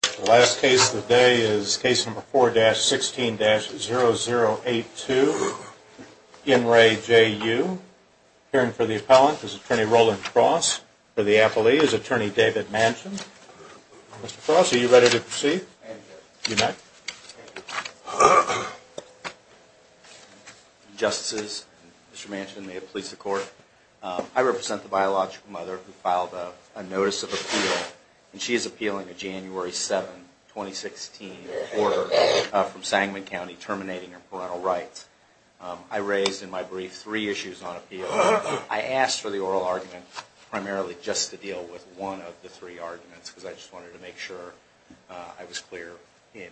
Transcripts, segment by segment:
The last case of the day is case number 4-16-0082. In re. Jay. U. Appearing for the appellant is attorney Roland Cross for the appellee is attorney David Manchin. Mr. Cross, are you ready to proceed? You may. Justices, Mr. Manchin may it please the court. She is appealing a January 7, 2016, order from Sangman County terminating her parental rights. I raised in my brief three issues on appeal. I asked for the oral argument primarily just to deal with one of the three arguments because I just wanted to make sure I was clear in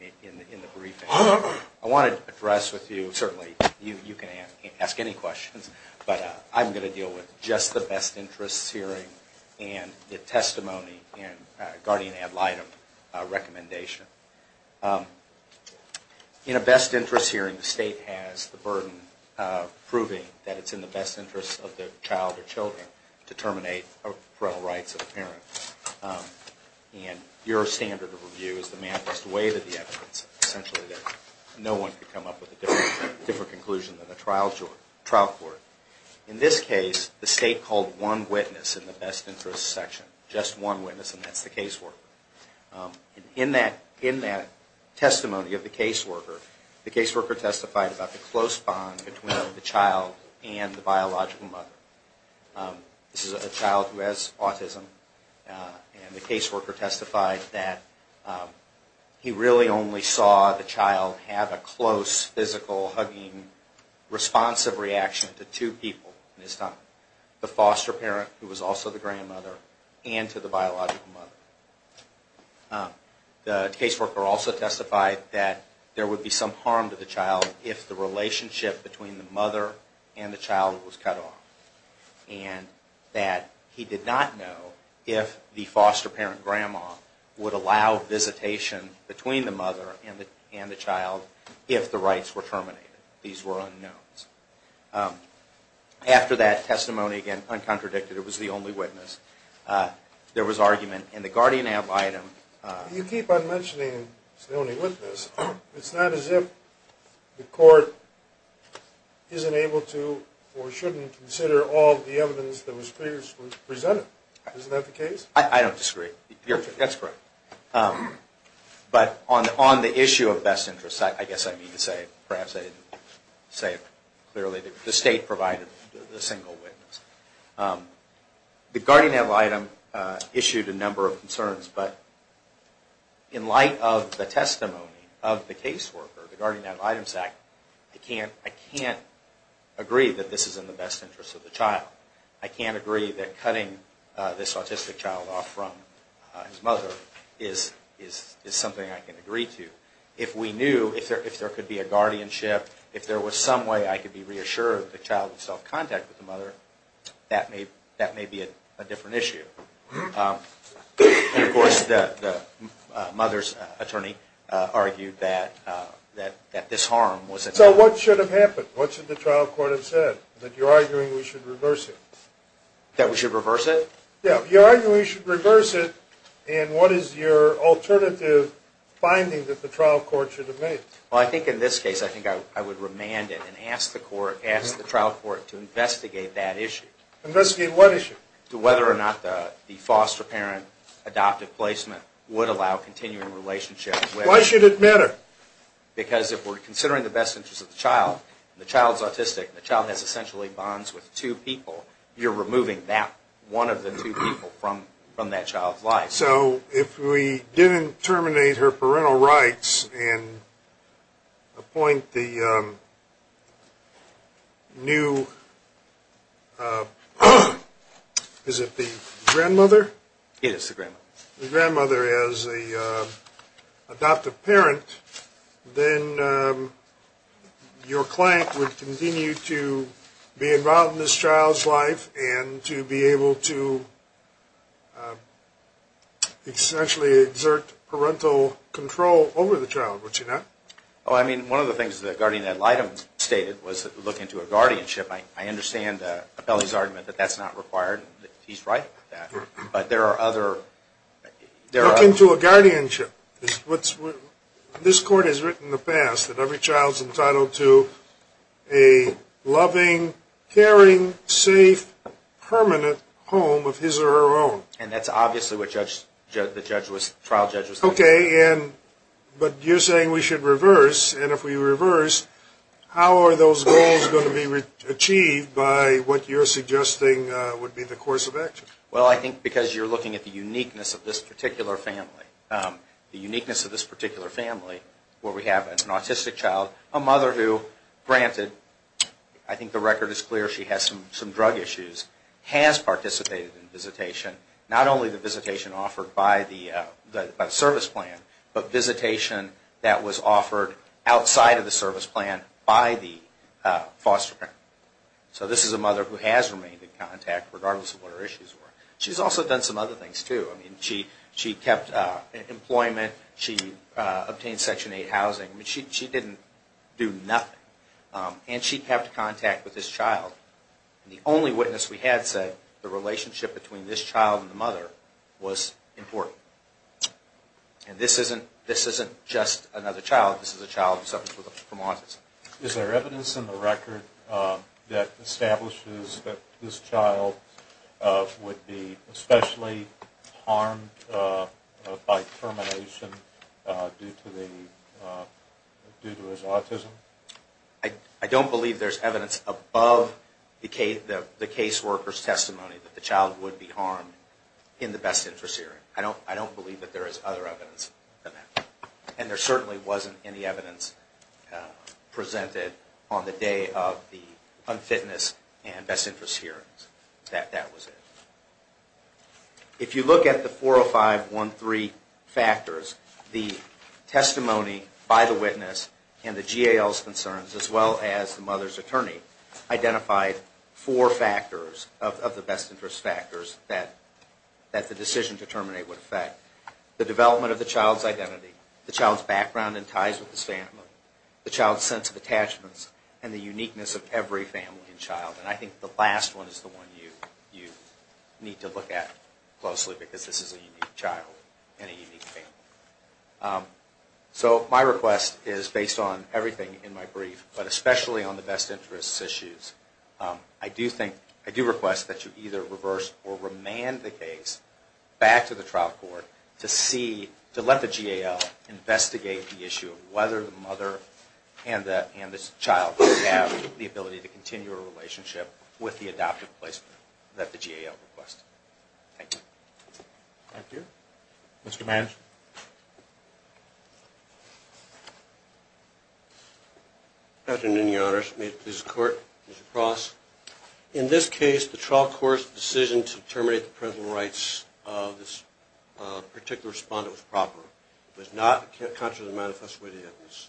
the briefing. I wanted to address with you, certainly you can ask any questions, but I'm going to deal with just the best interests hearing and the testimony and guardian ad litem recommendation. In a best interest hearing, the state has the burden of proving that it's in the best interest of the child or children to terminate parental rights of the parent. And your standard of review is to weigh the evidence, essentially that no one could come up with a different conclusion than the trial court. In this case, the state called one witness in the best interest section, just one witness and that's the caseworker. In that testimony of the caseworker, the caseworker testified about the close bond between the child and the biological mother. This is a child who has autism and the caseworker testified that he really only saw the child have a close, physical, hugging, responsive reaction to two people in his time, the foster parent who was also the grandmother and to the biological mother. The caseworker also testified that there would be some harm to the child if the relationship between the mother and the child was cut off and that he did not know if the foster parent grandma would allow visitation between the mother and the child if the rights were terminated. These were unknowns. After that testimony, again, uncontradicted, it was the only witness, there was argument in the guardian ad litem. You keep on mentioning it's the only witness. It's not as if the court isn't able to or shouldn't consider all the evidence that was presented. Isn't that the case? I don't disagree. That's correct. But on the issue of best interest, I guess I need to say, perhaps I didn't say it clearly, the state provided the single witness. The guardian ad litem issued a number of concerns, but in light of the testimony of the caseworker, the guardian ad litem act, I can't agree that this is in the best interest of the child. I can't agree that cutting this autistic child off from his mother is something I can agree to. If we knew, if there could be a guardianship, if there was some way I could be reassured that the child would have self-contact with the mother, that may be a different issue. Of course, the mother's attorney argued that this harm was... So what should have happened? What should the trial court have said? That you're arguing we should reverse it? That we should reverse it? Yeah, you're arguing we should reverse it, and what is your alternative finding that the trial court should have made? Well, I think in this case, I think I would remand it and ask the trial court to investigate that issue. Investigate what issue? To whether or not the foster parent adoptive placement would allow continuing relationship with... Why should it matter? Because if we're considering the best interest of the child, the child's autistic, the child has essentially bonds with two people, you're removing that one of the two people from that child's life. So if we didn't terminate her parental rights and appoint the new... Is it the grandmother? Yes, the grandmother. The grandmother as the adoptive parent, then your client would continue to be involved in this child's life and to be able to essentially exert parental control over the child, would you not? Oh, I mean, one of the things that guardian ad litem stated was look into a guardianship. I understand Appelli's argument that that's not required. He's right about that, but there are other... Look into a guardianship. This court has written in the past that every child's entitled to a loving, caring, safe, permanent home of his or her own. And that's obviously what the trial judge was... Okay, but you're saying we should reverse, and if we reverse, how are those goals going to be achieved by what you're suggesting would be the course of action? Well, I think because you're looking at the uniqueness of this particular family, where we have an autistic child, a mother who, granted, I think the record is clear, she has some drug issues, has participated in visitation, not only the visitation offered by the service plan, but visitation that was offered outside of the service plan by the foster parent. So this is a mother who has remained in contact regardless of what her issues were. She's also done some other things, too. I mean, she kept employment, she obtained Section 8 housing. I mean, she didn't do nothing. And she kept contact with this child. The only witness we had said the relationship between this child and the mother was important. And this isn't just another child. This is a child who suffers from autism. Is there evidence in the record that establishes that this child would be especially harmed by termination due to his autism? I don't believe there's evidence above the caseworker's testimony that the child would be harmed in the best interest hearing. I don't believe that there is other evidence than that. And there certainly wasn't any evidence presented on the day of the unfitness and best interest hearings that that was it. If you look at the 40513 factors, the testimony by the witness and the GAL's concerns, as well as the mother's attorney, identified four factors of the best interest factors that the decision to terminate would affect. The development of the child's identity, the child's background and ties with his family, the child's sense of attachments, and the uniqueness of every family and child. And I think the last one is the one you need to look at closely because this is a unique child and a unique family. So my request is based on everything in my brief, but especially on the best interest issues. I do think, I do request that you either reverse or remand the case back to the trial court to see, to let the GAL investigate the issue of whether the mother and this child have the ability to continue a relationship with the adoptive placement that the GAL requests. Thank you. Thank you. Mr. Manish. Good afternoon, Your Honors. May it please the Court. Mr. Cross. In this case, the trial court's decision to terminate the parental rights of this particular respondent was proper. It was not contrary to the manifest way to the evidence.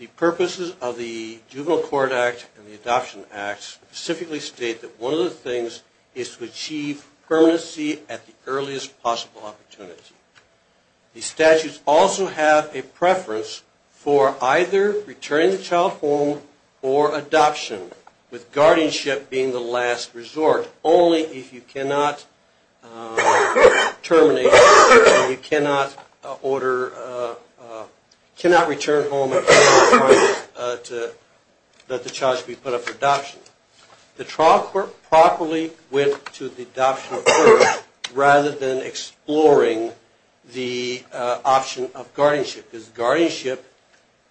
The purposes of the Juvenile Court Act and the Adoption Act specifically state that one of the things is to achieve permanency at the earliest possible opportunity. The statutes also have a preference for either returning the child home or adoption, with guardianship being the last resort, only if you cannot terminate and you cannot order, cannot return home and cannot permit to let the child be put up for adoption. The trial court properly went to the adoption of birth rather than exploring the option of guardianship, because guardianship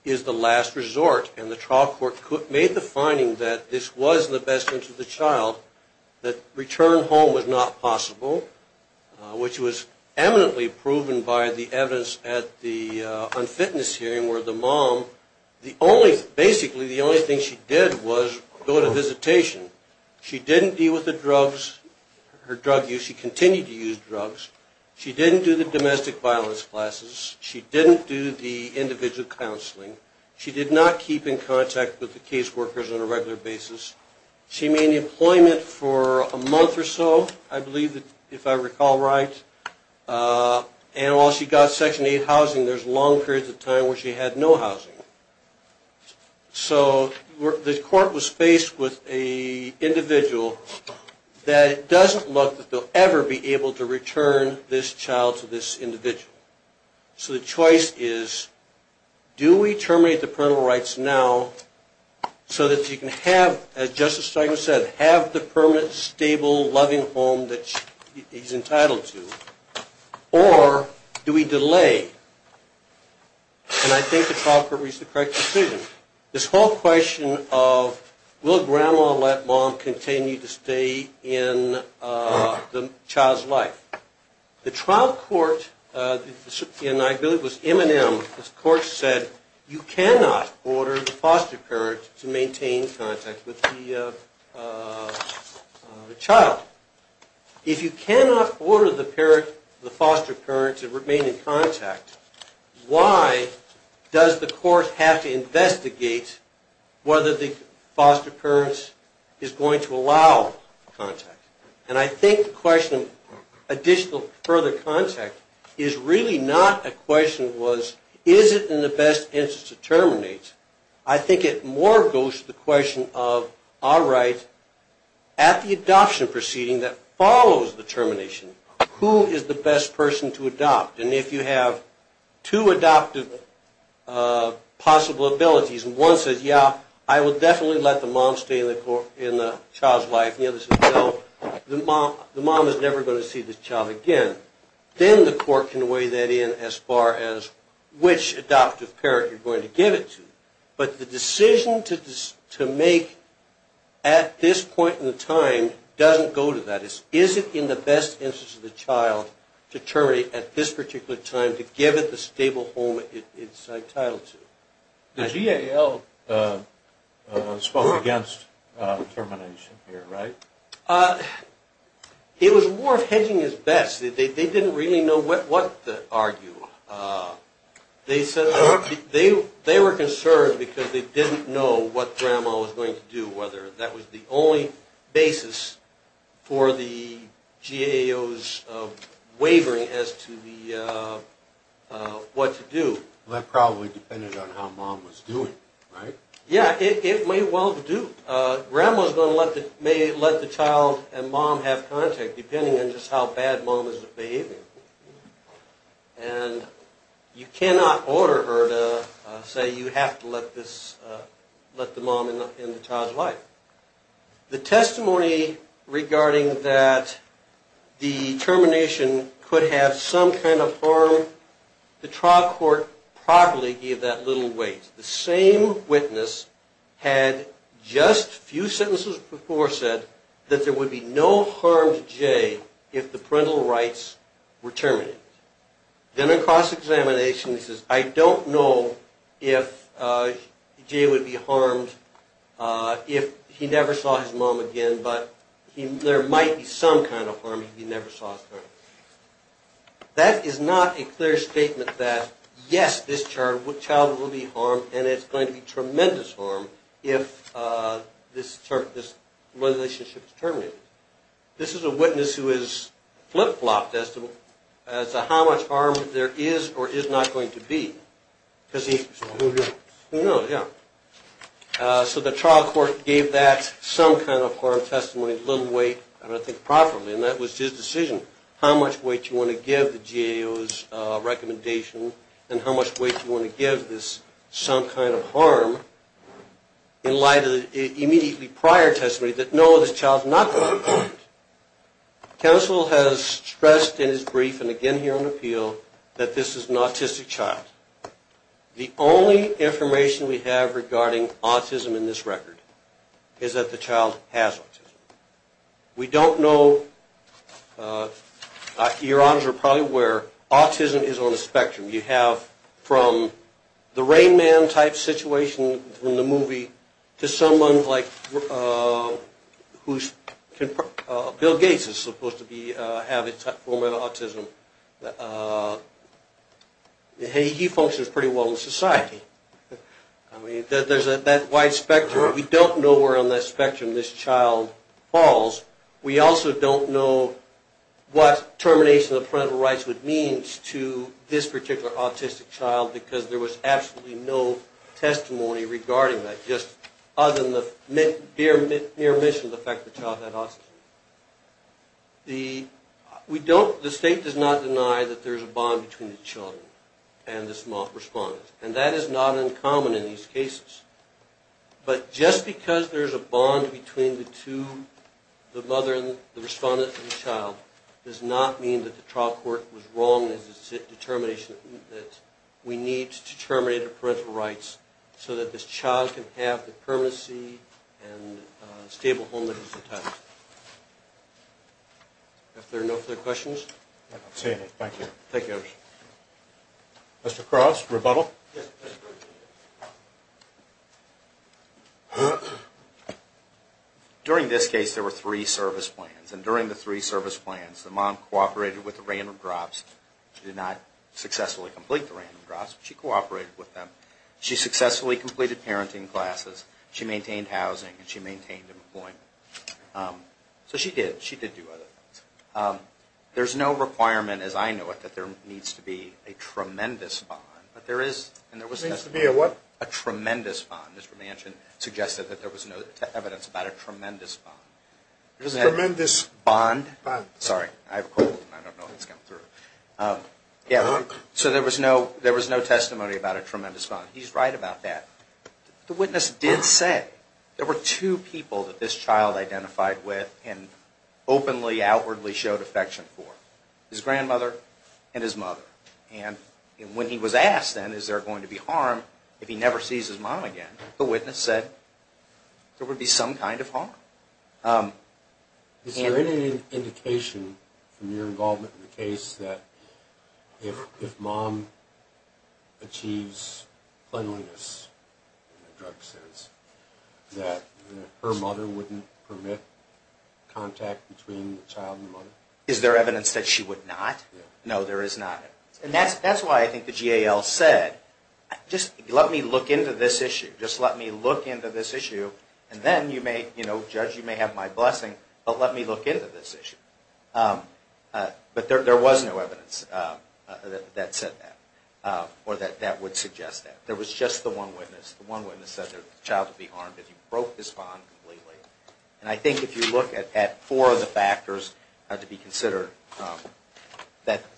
is the last resort. And the trial court made the finding that this was in the best interest of the child, that return home was not possible, which was eminently proven by the evidence at the unfitness hearing where the mom, the only, basically the only thing she did was go to visitation. She didn't deal with the drugs, her drug use. She continued to use drugs. She didn't do the domestic violence classes. She didn't do the individual counseling. She did not keep in contact with the caseworkers on a regular basis. She made employment for a month or so, I believe, if I recall right. And while she got Section 8 housing, there's long periods of time where she had no housing. So the court was faced with an individual that it doesn't look that they'll ever be able to return this child to this individual. So the choice is, do we terminate the parental rights now so that she can have, as Justice Stiglitz said, have the permanent, stable, loving home that she's entitled to? Or do we delay? And I think the trial court reached the correct decision. This whole question of, will Grandma let Mom continue to stay in the child's life? The trial court, and I believe it was M&M, the court said, you cannot order the foster parent to maintain contact with the child. If you cannot order the foster parent to remain in contact, why does the court have to investigate whether the foster parent is going to allow contact? And I think the question of additional further contact is really not a question of, is it in the best interest to terminate? I think it more goes to the question of, all right, at the adoption proceeding that follows the termination, who is the best person to adopt? And if you have two adoptive possible abilities, and one says, yeah, I will definitely let the mom stay in the child's life, and the other says, no, the mom is never going to see the child again, then the court can weigh that in as far as which adoptive parent you're going to give it to. But the decision to make at this point in time doesn't go to that. Is it in the best interest of the child to terminate at this particular time, to give it the stable home it's entitled to? The GAO spoke against termination here, right? It was more of hedging his bets. They didn't really know what to argue. They were concerned because they didn't know what grandma was going to do, whether that was the only basis for the GAO's wavering as to what to do. Well, that probably depended on how mom was doing, right? Yeah, it may well do. Grandma may let the child and mom have contact, depending on just how bad mom is at behaving. And you cannot order her to say you have to let the mom end the child's life. The testimony regarding that the termination could have some kind of harm, the trial court probably gave that little weight. The same witness had just a few sentences before said that there would be no harm to Jay if the parental rights were terminated. Then in cross-examination he says, I don't know if Jay would be harmed if he never saw his mom again, but there might be some kind of harm if he never saw his mom again. That is not a clear statement that, yes, this child will be harmed, and it's going to be tremendous harm if this relationship is terminated. This is a witness who is flip-flopped as to how much harm there is or is not going to be. Because he knows, yeah. So the trial court gave that some kind of harm testimony a little weight, I don't think properly, and that was his decision, how much weight you want to give the GAO's recommendation and how much weight you want to give this some kind of harm in light of the immediately prior testimony that no, this child is not going to be harmed. Counsel has stressed in his brief and again here on appeal that this is an autistic child. The only information we have regarding autism in this record is that the child has autism. We don't know, your honors are probably aware, autism is on a spectrum. You have from the Rain Man type situation in the movie to someone like Bill Gates who is supposed to have a form of autism. He functions pretty well in society. There is that wide spectrum. We don't know where on that spectrum this child falls. We also don't know what termination of parental rights would mean to this particular autistic child because there was absolutely no testimony regarding that, just other than the mere mention of the fact that the child had autism. The state does not deny that there is a bond between the child and the small respondent, and that is not uncommon in these cases. But just because there is a bond between the mother and the respondent and the child does not mean that the trial court was wrong in its determination that we need to terminate the parental rights so that this child can have the permanency and stable home that he's entitled to. Are there no further questions? I don't see any. Thank you. Thank you, your honors. Mr. Cross, rebuttal? Yes, Mr. President. During this case there were three service plans, and during the three service plans the mom cooperated with the random drops. She did not successfully complete the random drops, but she cooperated with them. She successfully completed parenting classes. She maintained housing and she maintained employment. So she did. She did do other things. There's no requirement as I know it that there needs to be a tremendous bond, but there is, and there was testimony. There needs to be a what? A tremendous bond. Mr. Manchin suggested that there was no evidence about a tremendous bond. Tremendous bond? Sorry, I have a cold and I don't know what's coming through. Yeah, so there was no testimony about a tremendous bond. He's right about that. The witness did say there were two people that this child identified with and openly outwardly showed affection for, his grandmother and his mother. And when he was asked then is there going to be harm if he never sees his mom again, the witness said there would be some kind of harm. Is there any indication from your involvement in the case that if mom achieves cleanliness in the drug sense that her mother wouldn't permit contact between the child and the mother? Is there evidence that she would not? No, there is not. And that's why I think the GAL said just let me look into this issue. Just let me look into this issue and then you may, you know, judge you may have my blessing, but let me look into this issue. But there was no evidence that said that or that would suggest that. There was just the one witness. The one witness said the child would be harmed if he broke his bond completely. And I think if you look at four of the factors to be considered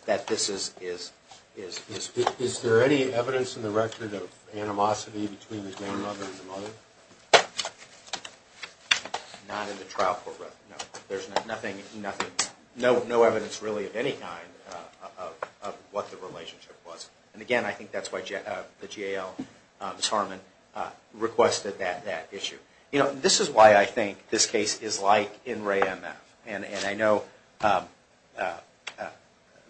that this is true. Is there any evidence in the record of animosity between the grandmother and the mother? Not in the trial program, no. There's nothing, no evidence really of any kind of what the relationship was. And again, I think that's why the GAL, Sarman, requested that issue. You know, this is why I think this case is like in RAE-MF. And I know the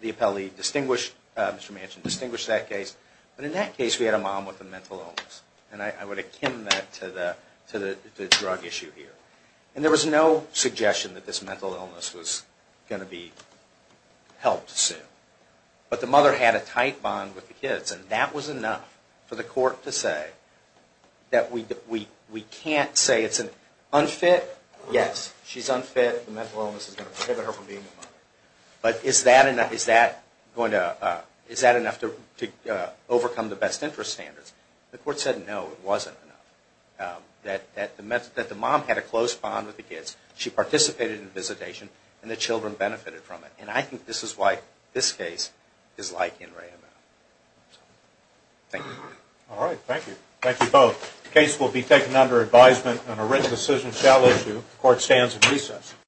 appellee distinguished, Mr. Manchin, distinguished that case. But in that case we had a mom with a mental illness. And I would akin that to the drug issue here. And there was no suggestion that this mental illness was going to be helped soon. But the mother had a tight bond with the kids. And that was enough for the court to say that we can't say it's an unfit. Yes, she's unfit. The mental illness is going to prohibit her from being a mother. But is that enough to overcome the best interest standards? The court said no, it wasn't enough. That the mom had a close bond with the kids. She participated in the visitation. And the children benefited from it. And I think this is why this case is like in RAE-MF. Thank you. All right, thank you. Thank you both. The case will be taken under advisement and a written decision shall issue. The court stands in recess.